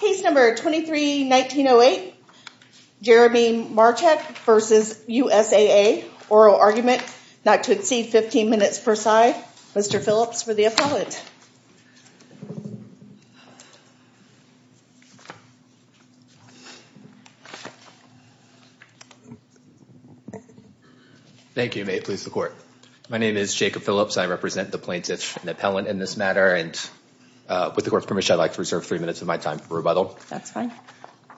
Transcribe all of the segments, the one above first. Case number 23-19-08, Jeremy Marchek v. USAA, oral argument, not to exceed 15 minutes per side. Mr. Phillips for the appellant. Thank you, may it please the court. My name is Jacob Phillips. I represent the plaintiff and the appellant in this matter and with the court's permission, I'd like to reserve three minutes of my time for rebuttal. That's fine.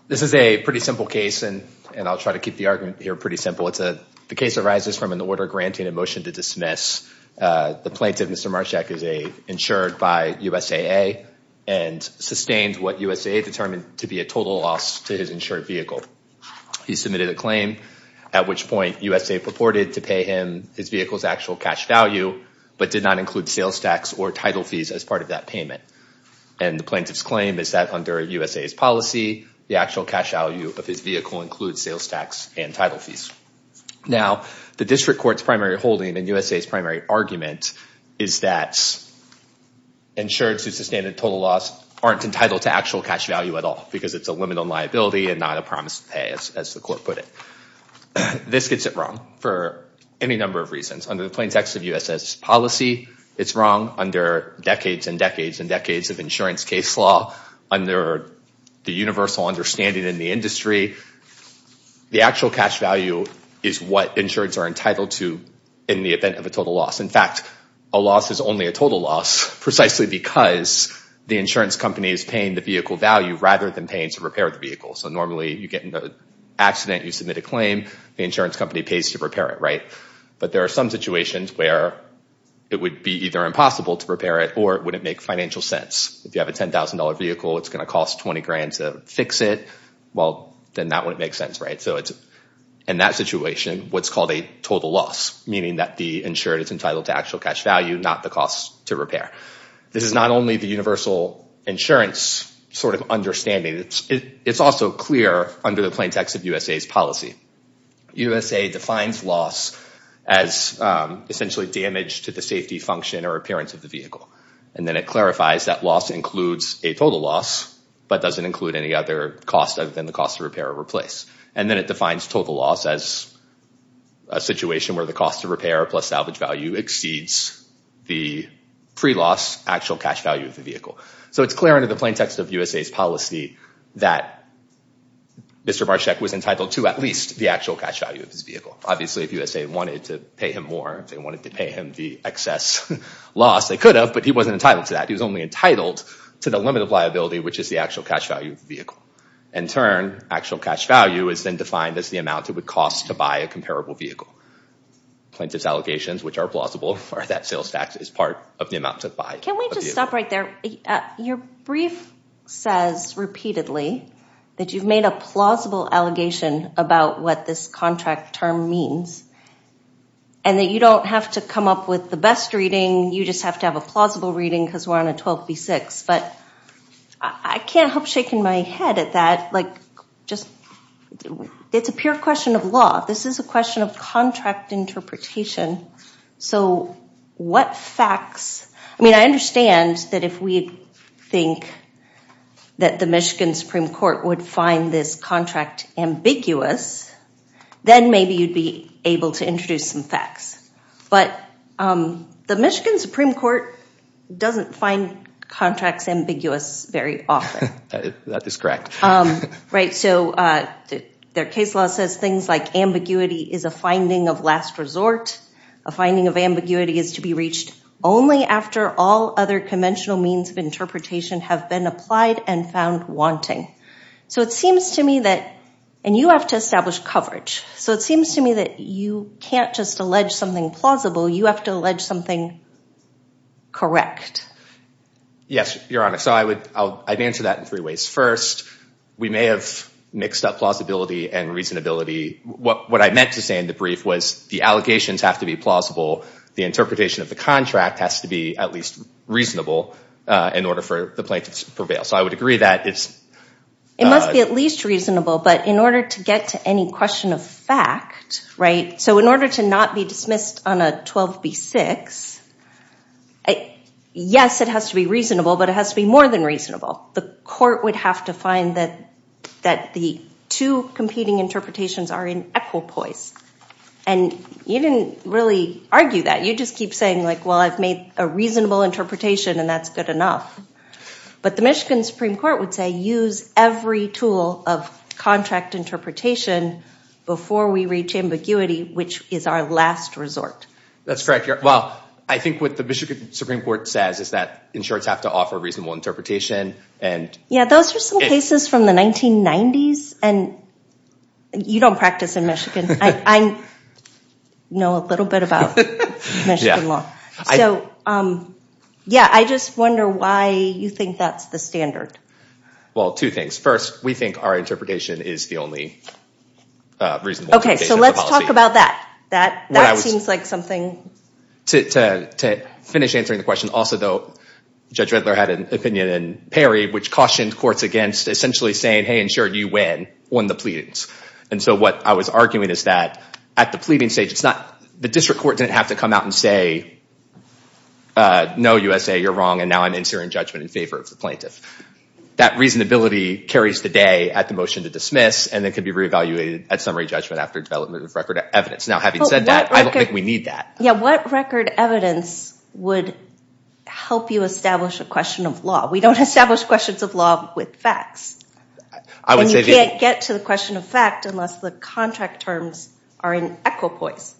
This is a pretty simple case and and I'll try to keep the argument here pretty simple. It's a, the case arises from an order granting a motion to dismiss the plaintiff, Mr. Marchek, as a insured by USAA and sustained what USAA determined to be a total loss to his insured vehicle. He submitted a claim at which point USA purported to pay him his vehicle's actual cash value but did not include sales tax or title fees as part of that payment and the plaintiff's claim is that under USA's policy, the actual cash value of his vehicle includes sales tax and title fees. Now, the district court's primary holding in USA's primary argument is that insureds who sustained a total loss aren't entitled to actual cash value at all because it's a limit on liability and not a promise to pay, as the court put it. This gets it wrong for any number of reasons. Under the plaintext of USA's policy, it's wrong under decades and decades and decades of insurance case law. Under the universal understanding in the industry, the actual cash value is what insureds are entitled to in the event of a total loss. In fact, a loss is only a total loss precisely because the insurance company is paying the vehicle value rather than paying to repair the vehicle. So normally, you get into an accident, you submit a claim, the insurance company pays to repair it, right? But there are some situations where it would be either impossible to repair it or it wouldn't make financial sense. If you have a $10,000 vehicle, it's going to cost $20,000 to fix it. Well, then that wouldn't make sense, right? So in that situation, what's called a total loss, meaning that the insured is entitled to actual cash value, not the cost to repair. This is not only the universal insurance sort of understanding, it's also clear under the plaintext of USA's policy. USA defines loss as essentially damage to the safety function or appearance of the vehicle. And then it clarifies that loss includes a total loss, but doesn't include any other cost other than the cost of repair or replace. And then it defines total loss as a situation where the cost of repair plus salvage value exceeds the pre-loss actual cash value of the vehicle. So it's clear under the plaintext of USA's policy that Mr. Barshek was entitled to at least the actual cash value of his vehicle. Obviously, if USA wanted to pay him more, if they wanted to pay him the excess loss, they could have, but he wasn't entitled to that. He was only entitled to the limit of liability, which is the actual cash value of the vehicle. In turn, actual cash value is then defined as the amount it would cost to buy a comparable vehicle. Plaintiff's allegations, which are plausible, are that sales tax is part of the amount to buy. Can we just stop right there? Your brief says repeatedly that you've made a plausible allegation about what this contract term means, and that you don't have to come up with the best reading. You just have to have a plausible reading because we're on a 12b6, but I can't help shaking my head at that. It's a pure question of law. This is a question of contract interpretation. So what facts? I mean, I understand that if we think that the Michigan Supreme Court would find this contract ambiguous, then maybe you'd be able to introduce some facts, but the Michigan Supreme Court doesn't find contracts ambiguous very often. That is correct. Right, so their case law says things like ambiguity is a finding of last resort. A finding of ambiguity is to be reached only after all other conventional means of interpretation have been applied and found wanting. So it seems to me that, and you have to establish coverage, so it seems to me that you can't just allege something plausible. You have to allege something correct. Yes, Your Honor, so I'd answer that in three ways. First, we may have mixed up plausibility and reasonability. What I meant to say in the brief was the allegations have to be plausible. The interpretation of the contract has to be at least reasonable in order for the plaintiffs to prevail. So I would agree that it's... It must be at least reasonable, but in order to get to any question of fact, right, so in order to not be dismissed on a 12b6, yes, it has to be reasonable, but it has to be more than reasonable. The court would have to find that that the two competing interpretations are in equipoise, and you didn't really argue that. You just keep saying like, well, I've made a reasonable interpretation, and that's good enough. But the Michigan Supreme Court would say use every tool of contract interpretation before we reach ambiguity, which is our last resort. That's correct, Your Honor. Well, I think what the Michigan Supreme Court says is that insurance have to offer a reasonable interpretation, and... Yeah, those are some cases from the 1990s, and you don't practice in Michigan. I know a little bit about Michigan law. Yeah, I just wonder why you think that's the standard. Well, two things. First, we think our interpretation is the only reasonable interpretation of the policy. Okay, so let's talk about that. That seems like something to finish answering the question. Also, though, Judge Redler had an opinion in Perry, which cautioned courts against essentially saying, hey, insured, you win, won the pleadings. And so what I was arguing is that at the pleading stage, it's not the district court didn't have to come out and say, no, USA, you're wrong, and now I'm insuring judgment in favor of the plaintiff. That reasonability carries the day at the motion to dismiss, and it could be re-evaluated at summary judgment after development of record evidence. Now, having said that, I don't think we need that. Yeah, what record evidence would help you establish a question of law? We don't establish questions of law with facts. I would say you can't get to the question of fact unless the contract terms are in equipoise.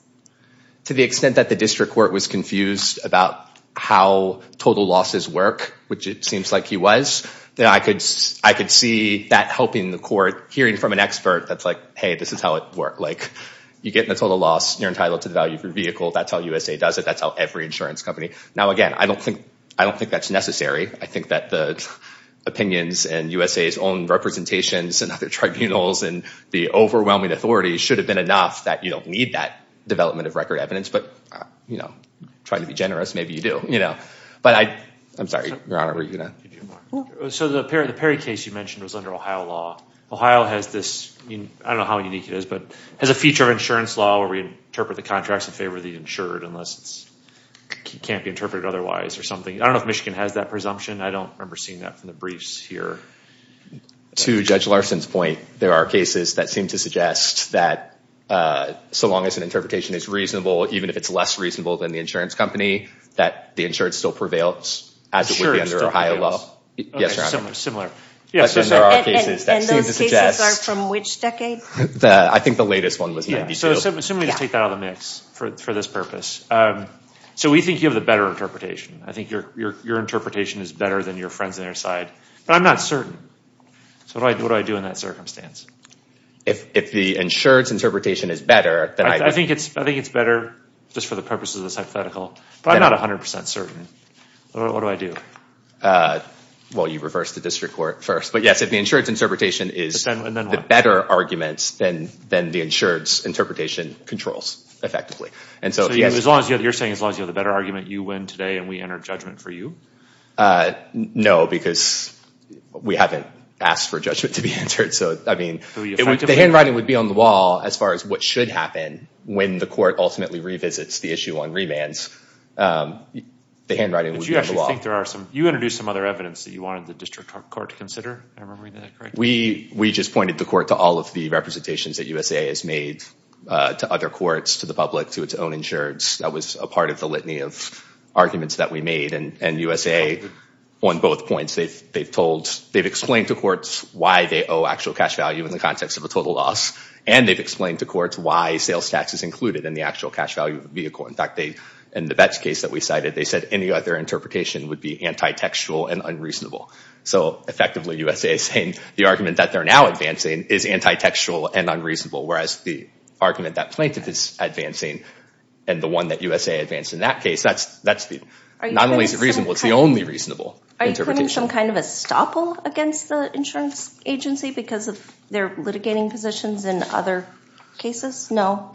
To the extent that the district court was confused about how total losses work, which it seems like he was, then I could see that helping the court hearing from an expert that's like, hey, this is how it works. You get the total loss, you're entitled to the value of your vehicle, that's how USA does it, that's how every insurance company does it. Now, again, I don't think that's necessary. I think that the opinions and USA's own representations and other tribunals and the overwhelming authority should have been enough that you don't need that development of record evidence, but, you know, try to be generous. Maybe you do, you know, but I'm sorry, Your Honor, were you going to? So the Perry case you mentioned was under Ohio law. Ohio has this, I don't know how unique it is, but has a feature of insurance law where we interpret the contracts in favor of the insured unless it can't be interpreted otherwise or something. I don't know if Michigan has that presumption. I don't remember seeing that from the briefs here. To Judge Larson's point, there are cases that seem to suggest that so long as an interpretation is reasonable, even if it's less reasonable than the insurance company, that the insured still prevails as it would be under Ohio law. Insurance still prevails. Yes, Your Honor. Similar, similar. And those cases are from which decade? I think the latest one was. So let me take that out of the mix for this purpose. So we think you have the better interpretation. I think your interpretation is better than your friends on your side, but I'm not certain. So what do I do in that circumstance? If the insured's interpretation is better. I think it's I think it's better just for the purposes of the hypothetical, but I'm not a hundred percent certain. What do I do? Well, you reverse the district court first. But yes, if the insured's interpretation is the better argument, then the insured's interpretation controls effectively. And so as long as you're saying as long as you have the better argument, you win today and we enter judgment for you? No, because we haven't asked for judgment to be entered. So, I mean, the handwriting would be on the wall as far as what should happen when the court ultimately revisits the issue on remands. The handwriting would be on the wall. You introduced some other evidence that you wanted the district court to consider. We just pointed the court to all of the representations that USA has made to other courts, to the public, to its own insureds. That was a part of the litany of arguments that we made and USA on both points, they've explained to courts why they owe actual cash value in the context of a total loss. And they've explained to courts why sales tax is included in the actual cash value of the vehicle. In fact, in the Betts case that we cited, they said any other interpretation would be anti-textual and unreasonable. So effectively, USA is saying the argument that they're now advancing is anti-textual and unreasonable, whereas the argument that plaintiff is advancing and the one that USA advanced in that case, that's not only reasonable, it's the only reasonable interpretation. Are you putting some kind of a stopple against the insurance agency because of their litigating positions in other cases? No.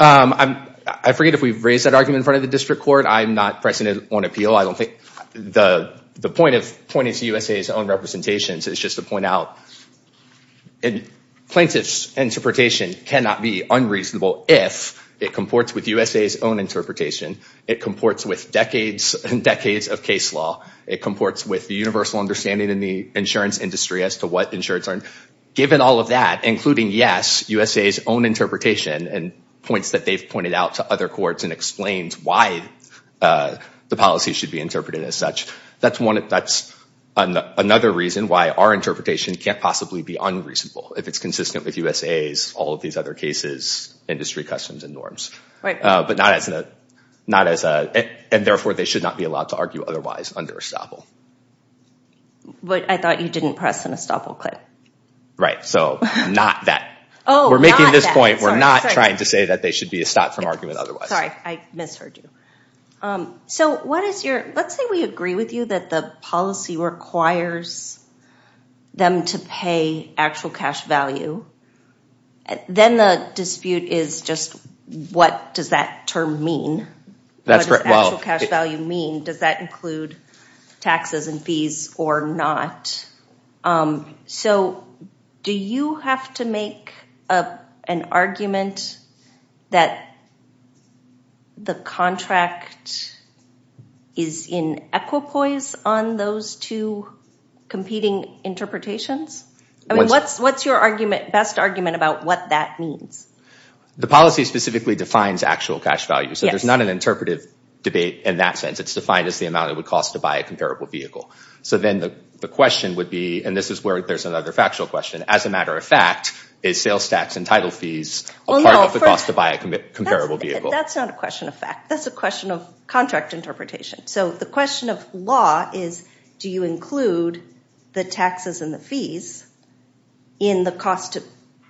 I forget if we've raised that argument in front of the district court. I'm not pressing it on appeal. I don't think the point of pointing to USA's own representations is just to point out that plaintiff's interpretation cannot be unreasonable if it comports with USA's own interpretation. It comports with decades and decades of case law. It comports with the universal understanding in the insurance industry as to what insurance are. Given all of that, including, yes, USA's own interpretation and points that they've pointed out to other courts and explains why the policy should be interpreted as such, that's another reason why our interpretation can't possibly be unreasonable if it's consistent with USA's, all of these other cases, industry customs and norms, but not as a, and therefore they should not be allowed to argue otherwise under a stopple. But I thought you didn't press an estoppel clip. Right, so not that. We're making this point. We're not trying to say that they should be stopped from argument otherwise. Sorry, I misheard you. So what is your, let's say we agree with you that the policy requires them to pay actual cash value, then the dispute is just what does that term mean? What does actual cash value mean? Does that include taxes and fees or not? So do you have to make an argument that the contract is in equipoise on those two competing interpretations? I mean, what's your argument, best argument, about what that means? The policy specifically defines actual cash value, so there's not an interpretive debate in that sense. It's defined as the amount it would cost to buy a comparable vehicle. So then the question would be, and this is where there's another factual question, as a matter of fact, is sales tax and title fees a part of the cost to buy a comparable vehicle? That's not a question of fact. That's a question of contract interpretation. So the question of law is, do you include the taxes and the fees in the cost to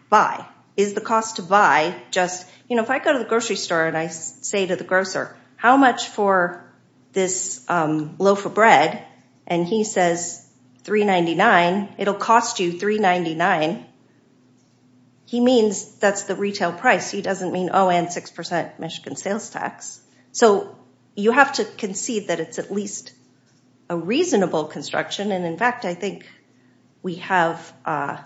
buy? Is the cost to buy just, you know, if I go to the grocery store and I say to the grocer, how much for this loaf of bread? And he says $3.99. It'll cost you $3.99. He means that's the retail price. He doesn't mean, oh, and 6% Michigan sales tax. So you have to concede that it's at least a reasonable construction, and in fact, I think we have an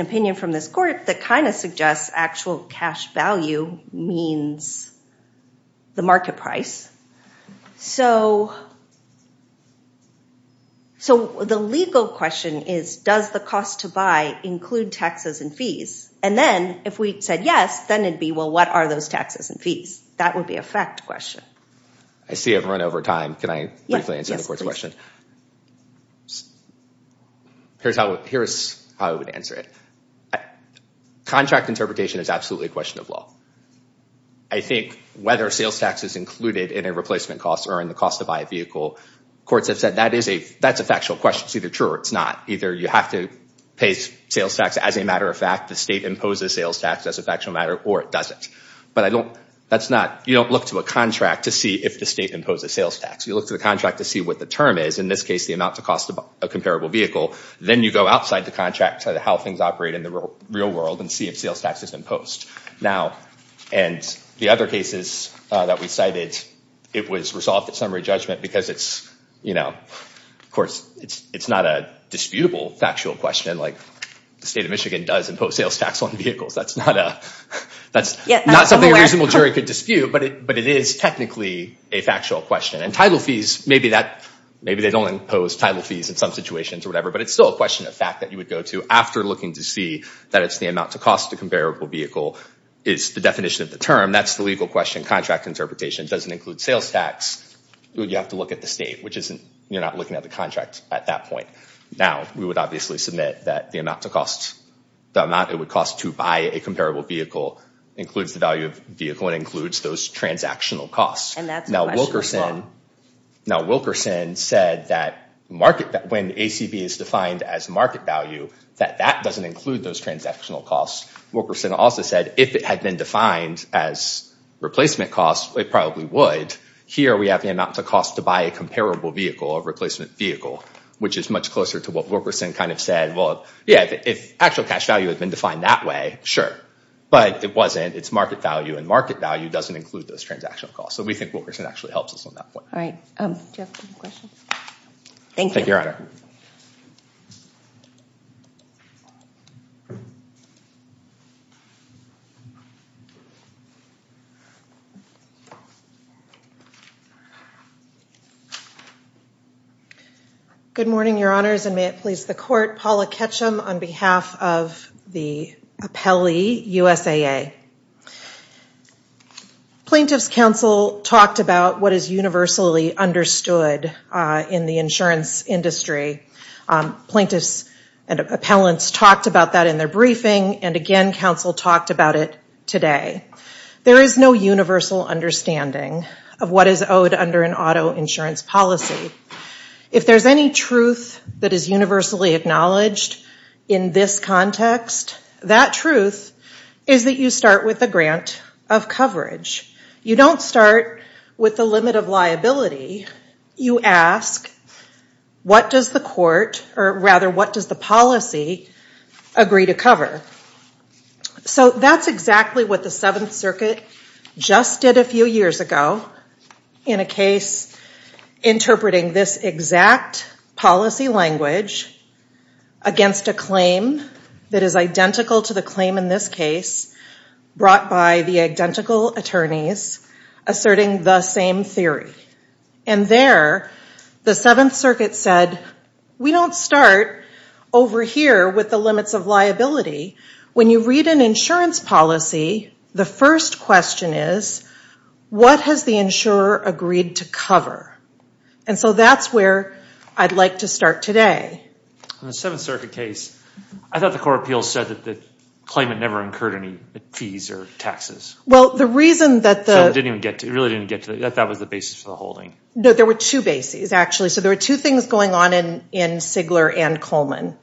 opinion from this court that kind of suggests actual cash value means the market price. So the legal question is, does the cost to buy include taxes and fees? And then, if we said yes, then it'd be, well, what are those taxes and fees? That would be a fact question. I see I've run over time. Can I briefly answer the court's question? Here's how I would answer it. Contract interpretation is absolutely a question of law. I think whether sales tax is included in a replacement cost or in the cost to buy a vehicle, courts have said that's a factual question. It's either true or it's not. Either you have to pay sales tax as a matter of fact, the state imposes sales tax as a factual matter, or it doesn't. But I don't, that's not, you don't look to a contract to see if the state imposes sales tax. You look to the contract to see what the term is. In this case, the amount to cost of a comparable vehicle. Then you go outside the contract to how things operate in the real world and see if sales tax is imposed. Now, and the other cases that we cited, it was resolved at summary judgment because it's, you know, of course, it's not a disputable factual question. Like, the state of Michigan does impose sales tax on vehicles. That's not a, that's not something a reasonable jury could dispute, but it is technically a factual question. And title fees, maybe that, maybe they don't impose title fees in some situations or whatever, but it's still a question of fact that you would go to after looking to see that it's the amount to cost to a comparable vehicle is the definition of the term. That's the legal question. Contract interpretation doesn't include sales tax. You have to look at the state, which isn't, you're not looking at the contract at that point. Now, we would obviously submit that the amount to cost, the amount it would cost to buy a comparable vehicle includes the value of vehicle and includes those transactional costs. And that's the question as well. Now, Wilkerson said that market, that when ACB is defined as market value, that that doesn't include those transactional costs. Wilkerson also said if it had been defined as replacement costs, it probably would. Here, we have the amount to cost to buy a comparable vehicle, a replacement vehicle, which is much closer to what Wilkerson kind of said. Well, yeah, if actual cash value had been defined that way, sure, but it wasn't. It's market value, and market value doesn't include those transactional costs. So we think Wilkerson actually helps us on that point. All right. Do you have any questions? Thank you, Your Honor. Good morning, Your Honors, and may it please the Court. Paula Ketchum on behalf of the appellee, USAA. Plaintiffs' counsel talked about what is universally understood in the insurance industry. Plaintiffs and appellants talked about that in their briefing, and again, counsel talked about it today. There is no universal understanding of what is owed under an auto insurance policy. If there's any truth that is universally acknowledged in this context, that truth is that you start with the grant of coverage. You don't start with the limit of liability. You ask, what does the court, or rather, what does the policy agree to cover? So that's exactly what the Seventh Circuit just did a few years ago in a case interpreting this exact policy language against a claim that is identical to the claim in this case, brought by the identical attorneys, asserting the same theory. And there, the Seventh Circuit said, we don't start over here with the limits of liability. When you read an insurance policy, the first question is, what has the insurer agreed to cover? And so that's where I'd like to start today. In the Seventh Circuit case, I thought the court of appeals said that the claimant never incurred any fees or taxes. Well, the reason that the- It really didn't get to that. I thought that was the basis for the holding. No, there were two bases, actually. So there were two things going on in Sigler and Coleman.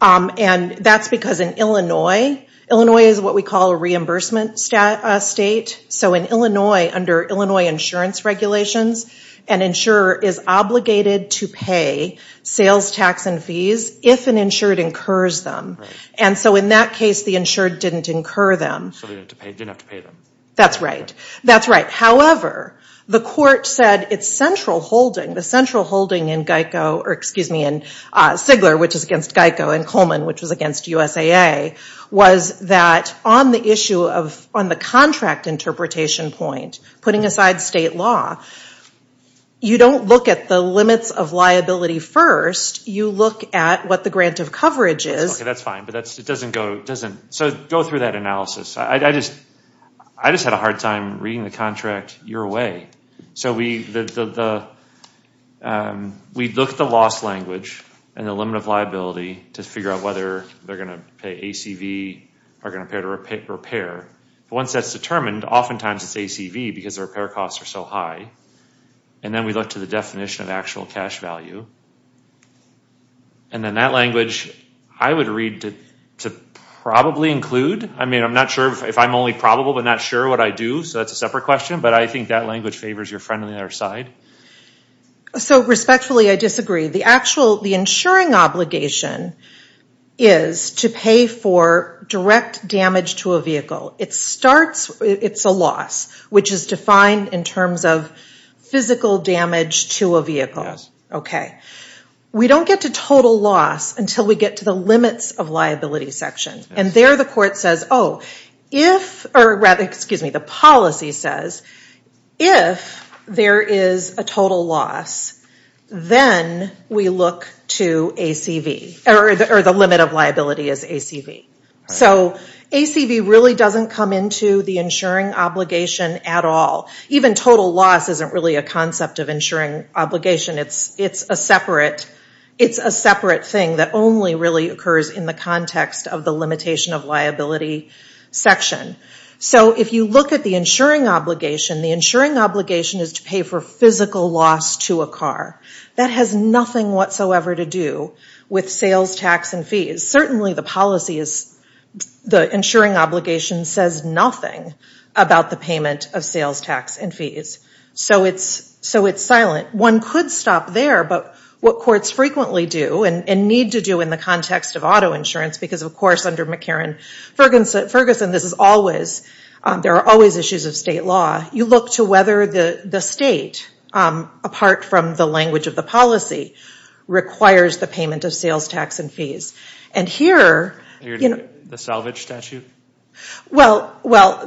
And that's because in Illinois, Illinois is what we call a reimbursement state. So in Illinois, under Illinois insurance regulations, an insurer is obligated to pay sales tax and fees if an insured incurs them. And so in that case, the insured didn't incur them. So they didn't have to pay them. That's right. That's right. However, the court said its central holding, the central holding in Geico, or excuse me, in Sigler, which is against Geico, and Coleman, which was against USAA, was that on the issue of on the contract interpretation point, putting aside state law, you don't look at the limits of liability first. You look at what the grant of coverage is. OK, that's fine. But that's, it doesn't go, doesn't, so go through that analysis. I just had a hard time reading the contract your way. So we looked at the loss language and the limit of liability to figure out whether they're going to pay ACV or going to pay to repair. Once that's determined, oftentimes it's ACV because the repair costs are so high. And then we look to the definition of actual cash value. And then that language, I would read to probably include. I mean, I'm not sure if I'm only probable, but not sure what I do. So that's a separate question. But I think that language favors your friend on the other side. So respectfully, I disagree. The actual, the insuring obligation is to pay for direct damage to a vehicle. It starts, it's a loss, which is defined in terms of physical damage to a vehicle. OK. We don't get to total loss until we get to the limits of liability section. And there the court says, oh, if, or rather, excuse me, the policy says, if there is a total loss, then we look to ACV, or the limit of liability is ACV. So ACV really doesn't come into the insuring obligation at all. Even total loss isn't really a concept of insuring obligation. It's a separate thing that only really occurs in the context of the limitation of liability section. So if you look at the insuring obligation, the insuring obligation is to pay for physical loss to a car. That has nothing whatsoever to do with sales tax and fees. Certainly the policy is, the insuring obligation says nothing about the payment of sales tax and fees. So it's silent. One could stop there, but what courts frequently do, and need to do in the context of auto insurance, because of course under McCarran-Ferguson, this is always, there are always issues of state law. You look to whether the state, apart from the language of the policy, requires the payment of sales tax and fees. And here, you know. The salvage statute? Well,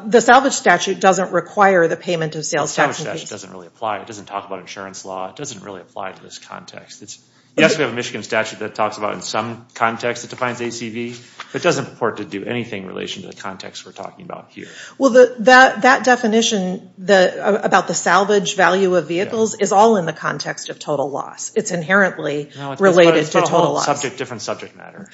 the salvage statute doesn't require the payment of sales tax and fees. The salvage statute doesn't really apply. It doesn't talk about insurance law. It doesn't really apply to this context. Yes, we have a Michigan statute that talks about in some context it defines ACV, but it doesn't purport to do anything in relation to the context we're talking about here. Well, that definition about the salvage value of vehicles is all in the context of total loss. It's inherently related to total loss. No, it's about a whole different subject matter.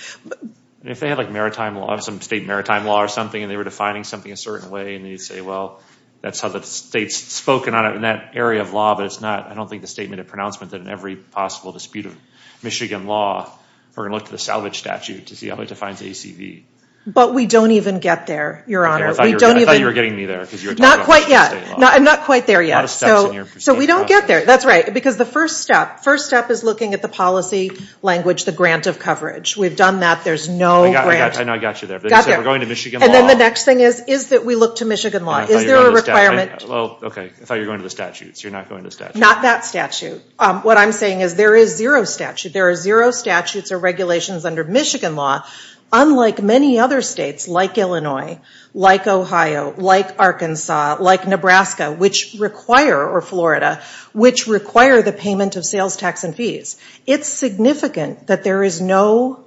If they had like maritime law, some state maritime law or something, and they were defining something a certain way, and they say, well, that's how the state's spoken on it in that area of law, but it's not, I don't think the statement of pronouncement that in every possible dispute of Michigan law, we're going to look to the salvage statute to see how it defines ACV. But we don't even get there, Your Honor. I thought you were getting me there, because you were talking about Michigan state law. Not quite yet. Not quite there yet. A lot of steps in your proceeding. So we don't get there. That's right, because the first step, first step is looking at the policy language, the grant of coverage. We've done that. There's no grant. I know I got you there. But you said we're going to Michigan law. And then the next thing is, is that we look to Michigan law. Is there a requirement? Well, okay. I thought you were going to the statutes. You're not going to the statutes. Not that statute. What I'm saying is, there is zero statute. There are zero statutes or regulations under Michigan law, unlike many other states, like Illinois, like Ohio, like Arkansas, like Nebraska, which require, or Florida, which require the payment of sales tax and fees. It's significant that there is no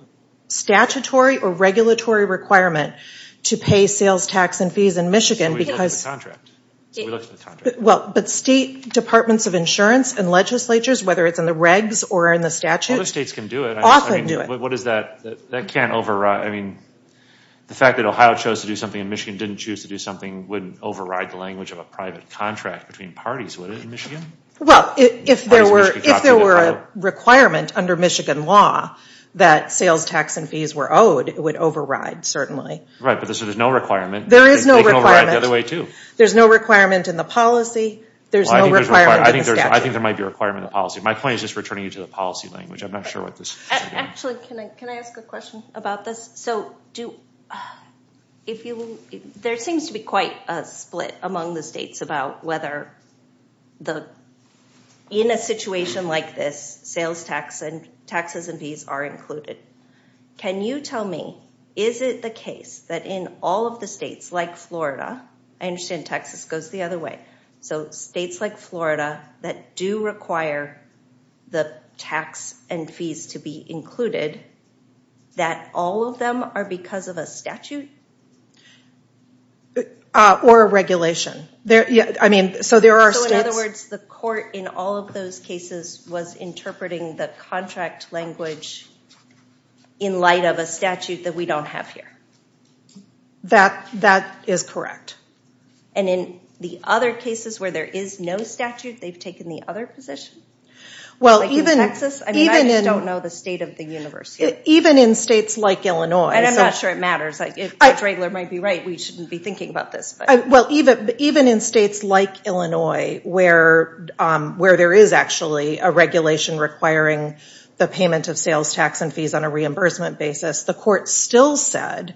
statutory or regulatory requirement to pay sales tax and fees in Michigan, because, well, but state departments of insurance and legislatures, whether it's in the regs or in the statutes, often do it. What is that, that can't override, I mean, the fact that Ohio chose to do something in Michigan didn't choose to do something wouldn't override the language of a private contract between parties, would it, in Michigan? Well, if there were a requirement under Michigan law that sales tax and fees were owed, it would override, certainly. Right, but there's no requirement. There is no requirement. They can override the other way, too. There's no requirement in the policy. There's no requirement in the statute. I think there might be a requirement in the policy. My point is just returning you to the policy language. I'm not sure what this is. Actually, can I ask a question about this? So, do, if you, there seems to be quite a split among the states about whether the, in a situation like this, sales tax and, taxes and fees are included. Can you tell me, is it the case that in all of the states like Florida, I understand Texas goes the other way, so states like Florida that do require the tax and fees to be included, that all of them are because of a statute? Or a regulation. There, yeah, I mean, so there are states. In other words, the court in all of those cases was interpreting the contract language in light of a statute that we don't have here. That, that is correct. And in the other cases where there is no statute, they've taken the other position? Well, even. I mean, I just don't know the state of the universe here. Even in states like Illinois. And I'm not sure it matters. If Judge Raegler might be right, we shouldn't be thinking about this, but. Well, even, even in states like Illinois, where, where there is actually a regulation requiring the payment of sales tax and fees on a reimbursement basis, the court still said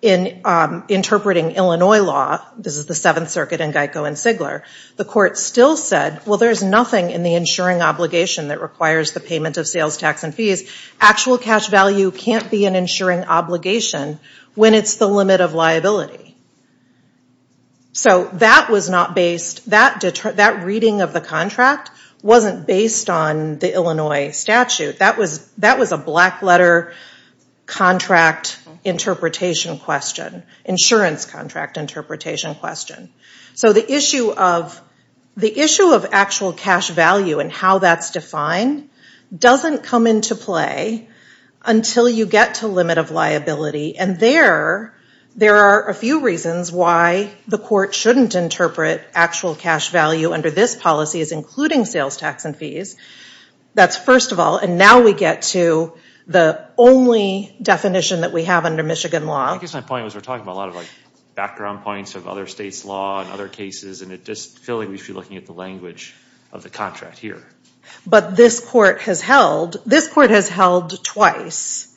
in interpreting Illinois law, this is the Seventh Circuit and Geico and Sigler, the court still said, well, there's nothing in the insuring obligation that requires the payment of sales tax and fees. Actual cash value can't be an insuring obligation when it's the limit of liability. So that was not based, that, that reading of the contract wasn't based on the Illinois statute. That was, that was a black letter contract interpretation question. Insurance contract interpretation question. So the issue of, the issue of actual cash value and how that's defined doesn't come into play until you get to limit of liability. And there, there are a few reasons why the court shouldn't interpret actual cash value under this policy as including sales tax and fees. That's first of all, and now we get to the only definition that we have under Michigan law. I guess my point was we're talking about a lot of like background points of other states' law and other cases, and it just, I feel like we should be looking at the language of the contract here. But this court has held, this court has held twice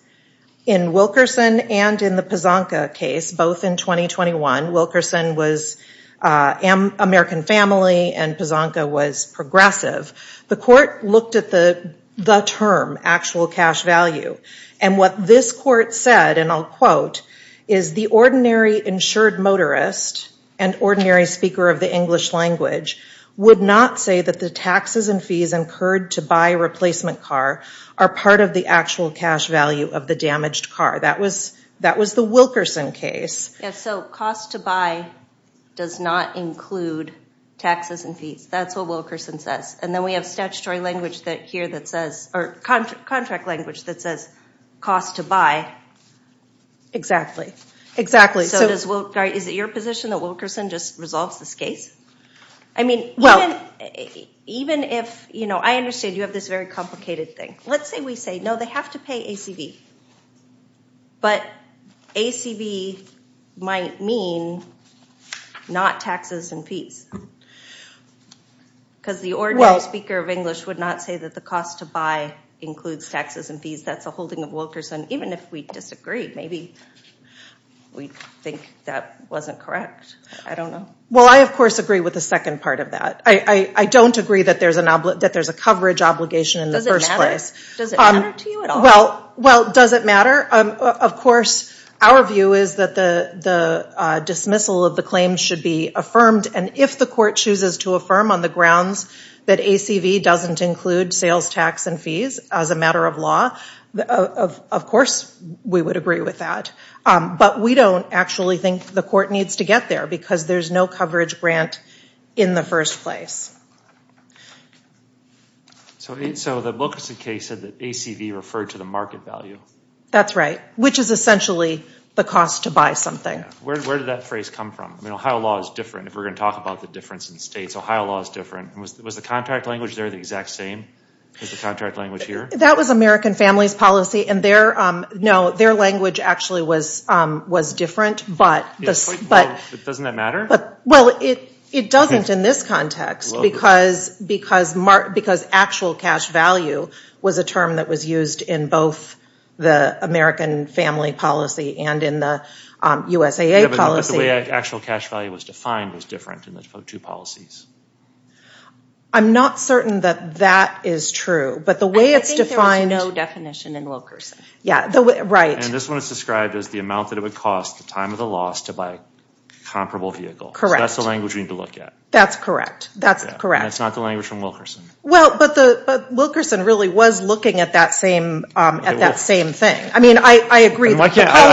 in Wilkerson and in the Pazanka case, both in 2021, Wilkerson was American family and Pazanka was progressive. The court looked at the, the term, actual cash value. And what this court said, and I'll quote, is the ordinary insured motorist and ordinary speaker of the English language would not say that the taxes and fees incurred to buy a replacement car are part of the actual cash value of the damaged car. That was, that was the Wilkerson case. Yes, so cost to buy does not include taxes and fees. That's what Wilkerson says. And then we have statutory language here that says, or contract language that says cost to buy. Exactly. So does, is it your position that Wilkerson just resolves this case? I mean, even if, you know, I understand you have this very complicated thing. Let's say we say, no, they have to pay ACV. But ACV might mean not taxes and fees. Because the ordinary speaker of English would not say that the cost to buy includes taxes and fees. That's a holding of Wilkerson. Even if we disagree, maybe we think that wasn't correct. I don't know. Well, I, of course, agree with the second part of that. I don't agree that there's an, that there's a coverage obligation in the first place. Does it matter to you at all? Well, does it matter? Of course, our view is that the dismissal of the claim should be affirmed. And if the court chooses to affirm on the grounds that ACV doesn't include sales, tax, and fees as a matter of law, of course, we would agree with that. But we don't actually think the court needs to get there because there's no coverage grant in the first place. So, so the Wilkerson case said that ACV referred to the market value. That's right. Which is essentially the cost to buy something. Where, where did that phrase come from? I mean, Ohio law is different if we're going to talk about the difference in states. Ohio law is different. And was, was the contact language there the exact same? Is the contact language here? That was American Families Policy. And their, no, their language actually was, was different. But, but. Doesn't that matter? But, well, it, it doesn't in this context. Because, because, because actual cash value was a term that was used in both the American Family Policy and in the USAA policy. But the way actual cash value was defined was different in the two policies. I'm not certain that that is true. But the way it's defined. I think there was no definition in Wilkerson. Yeah, the, right. And this one is described as the amount that it would cost, the time of the loss, to buy a comparable vehicle. Correct. So that's the language we need to look at. That's correct. That's correct. And it's not the language from Wilkerson. Well, but the, but Wilkerson really was looking at that same, at that same thing. I mean, I, I agree. I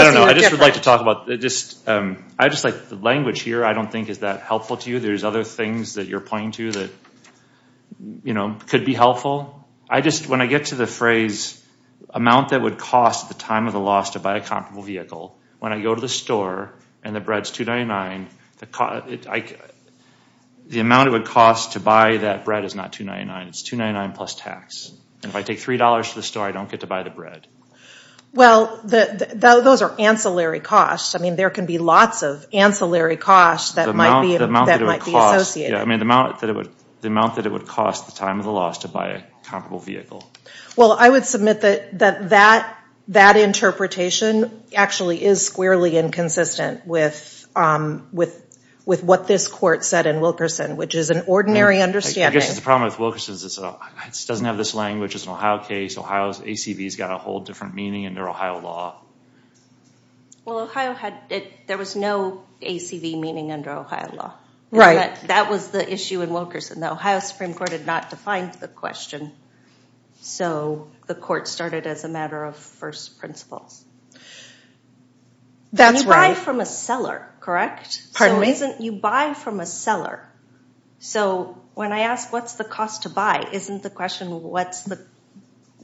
don't know, I just would like to talk about, just, I just like the language here. I don't think is that helpful to you. There's other things that you're pointing to that, you know, could be helpful. I just, when I get to the phrase, amount that would cost the time of the loss to buy a comparable vehicle, when I go to the store and the bread's $2.99, the cost, the amount it would cost to buy that bread is not $2.99, it's $2.99 plus tax. And if I take $3 to the store, I don't get to buy the bread. Well, the, those are ancillary costs. I mean, there can be lots of ancillary costs that might be. The amount that it would cost, yeah, I mean, the amount that it would, the amount that it would cost the time of the loss to buy a comparable vehicle. Well, I would submit that, that, that, that interpretation actually is squarely inconsistent with, with, with what this court said in Wilkerson, which is an ordinary understanding. I guess the problem with Wilkerson is it's a, it doesn't have this language. It's an Ohio case. Ohio's ACV's got a whole different meaning under Ohio law. Well, Ohio had, it, there was no ACV meaning under Ohio law. Right. And that, that was the issue in Wilkerson. The Ohio Supreme Court had not defined the question. So, the court started as a matter of first principles. That's right. And you buy from a seller, correct? Pardon me? So, isn't, you buy from a seller. So, when I ask what's the cost to buy, isn't the question what's the,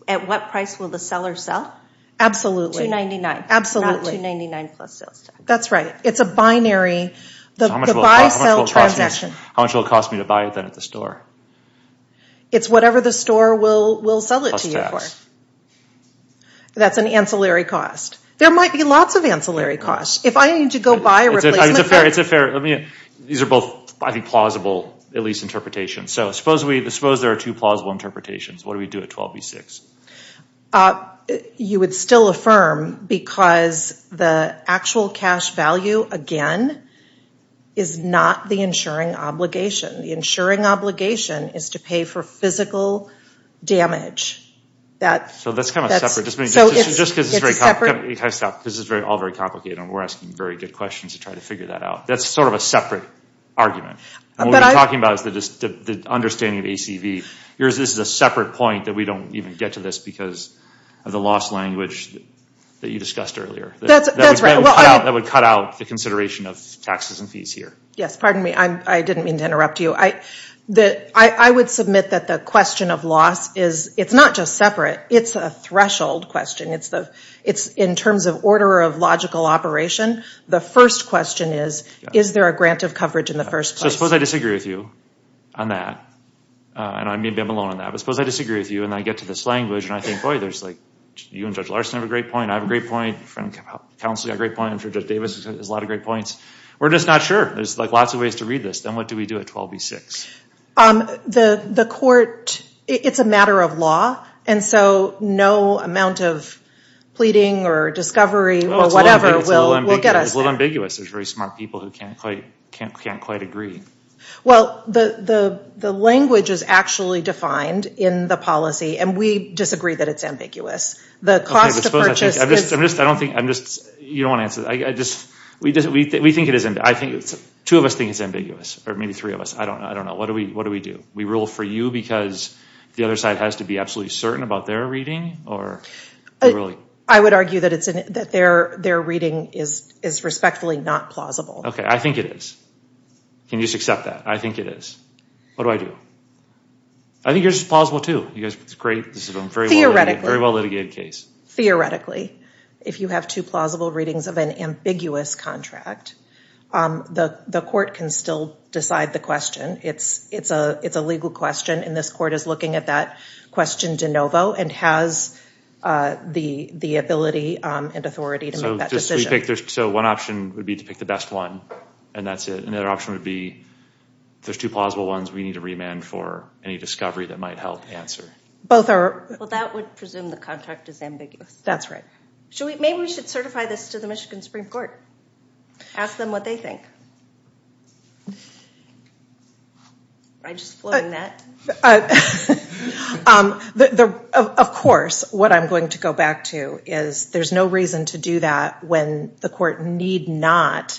at what price will the seller sell? Absolutely. $2.99. Absolutely. Not $2.99 plus sales tax. That's right. It's a binary, the buy-sell transaction. How much will it cost me to buy it then at the store? It's whatever the store will, will sell it to you for. That's an ancillary cost. There might be lots of ancillary costs. If I need to go buy a replacement. It's a fair, it's a fair, let me, these are both, I think, plausible, at least, interpretations. So, suppose we, suppose there are two plausible interpretations. What do we do at 12B6? You would still affirm because the actual cash value, again, is not the insuring obligation. The insuring obligation is to pay for physical damage. That's, that's, so it's, it's a separate, So, that's kind of a separate, just because it's very complicated, I have to stop, because it's all very complicated and we're asking very good questions to try to figure that out. That's sort of a separate argument. What we're talking about is the understanding of ACV. Yours is a separate point that we don't even get to this, because of the loss language that you discussed earlier. That's, that's right. That would cut out the consideration of taxes and fees here. Yes, pardon me, I didn't mean to interrupt you. I, the, I would submit that the question of loss is, it's not just separate. It's a threshold question. It's the, it's in terms of order of logical operation. The first question is, is there a grant of coverage in the first place? I suppose I disagree with you on that, and I may have been alone on that, but suppose I disagree with you and I get to this language and I think, boy, there's like, you and Judge Larson have a great point, I have a great point, counsel has a great point, and Judge Davis has a lot of great points. We're just not sure. There's like lots of ways to read this. Then what do we do at 12B6? The, the court, it's a matter of law, and so no amount of pleading or discovery or whatever will get us there. It's a little ambiguous. There's very smart people who can't quite, can't, can't quite agree. Well, the, the, the language is actually defined in the policy, and we disagree that it's ambiguous. The cost of purchase is. I'm just, I'm just, I don't think, I'm just, you don't want to answer that. I, I just, we just, we, we think it is, I think, two of us think it's ambiguous, or maybe three of us. I don't, I don't know. What do we, what do we do? We rule for you because the other side has to be absolutely certain about their reading, or. Really? I would argue that it's, that their, their reading is, is respectfully not plausible. Okay, I think it is. Can you just accept that? I think it is. What do I do? I think yours is plausible, too. You guys, it's great. This is a very well, very well litigated case. Theoretically, if you have two plausible readings of an ambiguous contract, the, the court can still decide the question. It's, it's a, it's a legal question, and this court is looking at that question de novo, and has the, the ability and authority to make that decision. So, just so you pick, there's, so one option would be to pick the best one, and that's it. Another option would be, if there's two plausible ones, we need a remand for any discovery that might help answer. Both are. Well, that would presume the contract is ambiguous. That's right. Should we, maybe we should certify this to the Michigan Supreme Court. Ask them what they think. I just floating that. The, the, of course, what I'm going to go back to is, there's no reason to do that when the court need not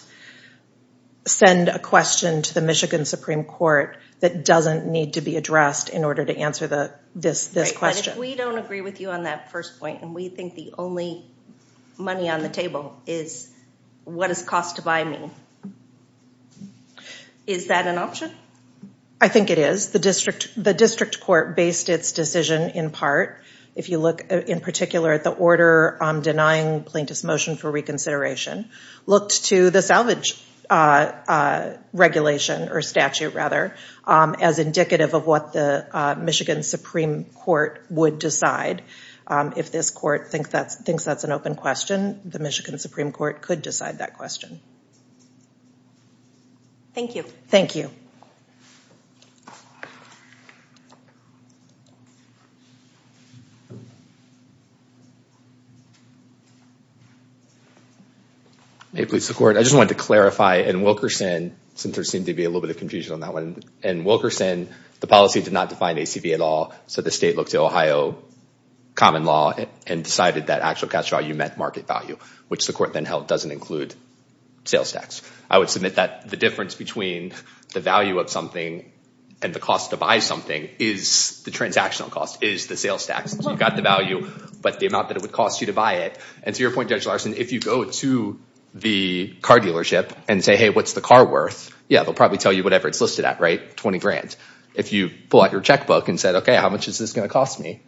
send a question to the Michigan Supreme Court that doesn't need to be addressed in order to answer the, this, this question. We don't agree with you on that first point, and we think the only money on the table is what does cost to buy mean? Is that an option? I think it is. The district court based its decision in part, if you look in particular at the order denying plaintiff's motion for reconsideration, looked to the salvage regulation, or statute rather, as indicative of what the Michigan Supreme Court would decide. If this court thinks that's an open question, the Michigan Supreme Court could decide that question. Thank you. Thank you. May it please the court. I just wanted to clarify, in Wilkerson, since there seemed to be a little bit of confusion on that one, in Wilkerson, the policy did not define ACV at all, so the state looked to Ohio common law and decided that actual cash value meant market value, which the court then held doesn't include sales tax. I would submit that the difference between the value of something and the cost to buy something is the transactional cost, is the sales tax. So you've got the value, but the amount that it would cost you to buy it. And to your point, Judge Larson, if you go to the car dealership and say, hey, what's the car worth, yeah, they'll probably tell you whatever it's listed at, right? Twenty grand. If you pull out your checkbook and said, okay, how much is this going to cost me?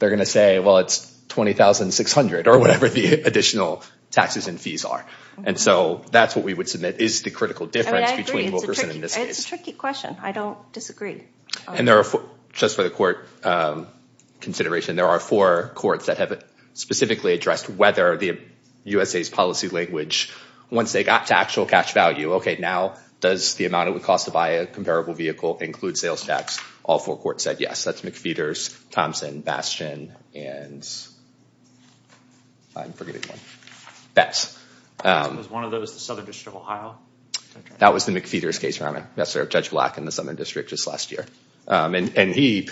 They're going to say, well, it's $20,600, or whatever the additional taxes and fees are. And so that's what we would submit, is the critical difference between Wilkerson and this case. It's a tricky question. I don't disagree. And just for the court consideration, there are four courts that have specifically addressed whether the USA's policy language, once they got to actual cash value, okay, now does the amount it would cost to buy a comparable vehicle include sales tax? All four courts said yes. That's McPheeters, Thompson, Bastion, and I'm forgetting one. Betz. Was one of those the Southern District of Ohio? That was the McPheeters case, Your Honor. That's Judge Black in the Southern District just last year. And he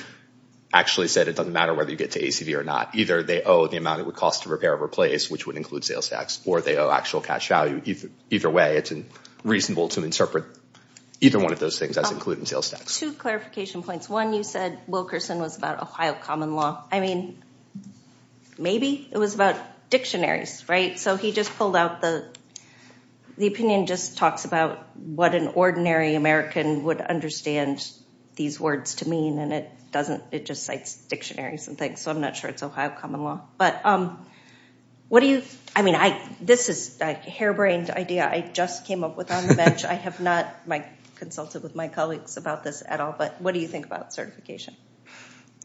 actually said it doesn't matter whether you get to ACV or not. Either they owe the amount it would cost to repair or replace, which would include sales tax, or they owe actual cash value. Either way, it's reasonable to interpret either one of those things as including sales tax. Two clarification points. One, you said Wilkerson was about Ohio common law. I mean, maybe it was about dictionaries, right? So he just pulled out the opinion just talks about what an ordinary American would understand these words to mean. And it doesn't, it just cites dictionaries and things. So I'm not sure it's Ohio common law. But what do you, I mean, this is a harebrained idea I just came up with on the bench. I have not consulted with my colleagues about this at all. But what do you think about certification?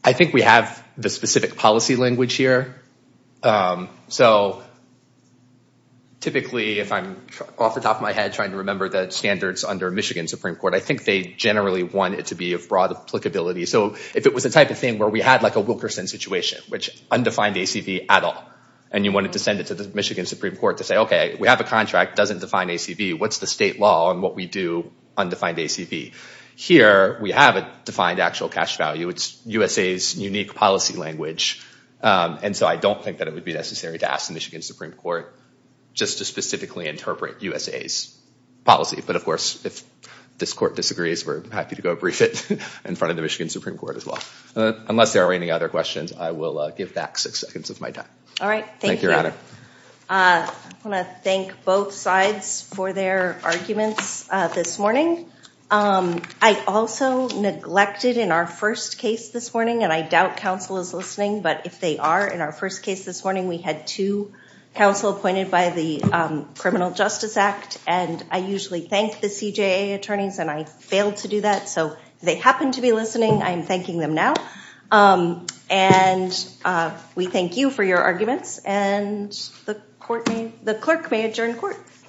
I think we have the specific policy language here. So typically, if I'm off the top of my head trying to remember the standards under Michigan Supreme Court, I think they generally want it to be of broad applicability. So if it was a type of thing where we had like a Wilkerson situation, which undefined ACV at all, and you wanted to send it to the Michigan Supreme Court to say, okay, we have a contract, doesn't define ACV. What's the state law on what we do, undefined ACV? Here, we have a defined actual cash value. It's USA's unique policy language. And so I don't think that it would be necessary to ask the Michigan Supreme Court just to specifically interpret USA's policy. But of course, if this court disagrees, we're happy to go brief it in front of the Michigan Supreme Court as well. Unless there are any other questions, I will give back six seconds of my time. Thank you, Your Honor. I want to thank both sides for their arguments this morning. I also neglected in our first case this morning, and I doubt counsel is listening, but if they are, in our first case this morning, we had two counsel appointed by the Criminal Justice Act. And I usually thank the CJA attorneys, and I failed to do that. So if they happen to be listening, I'm thanking them now. And we thank you for your arguments. And the clerk may adjourn court.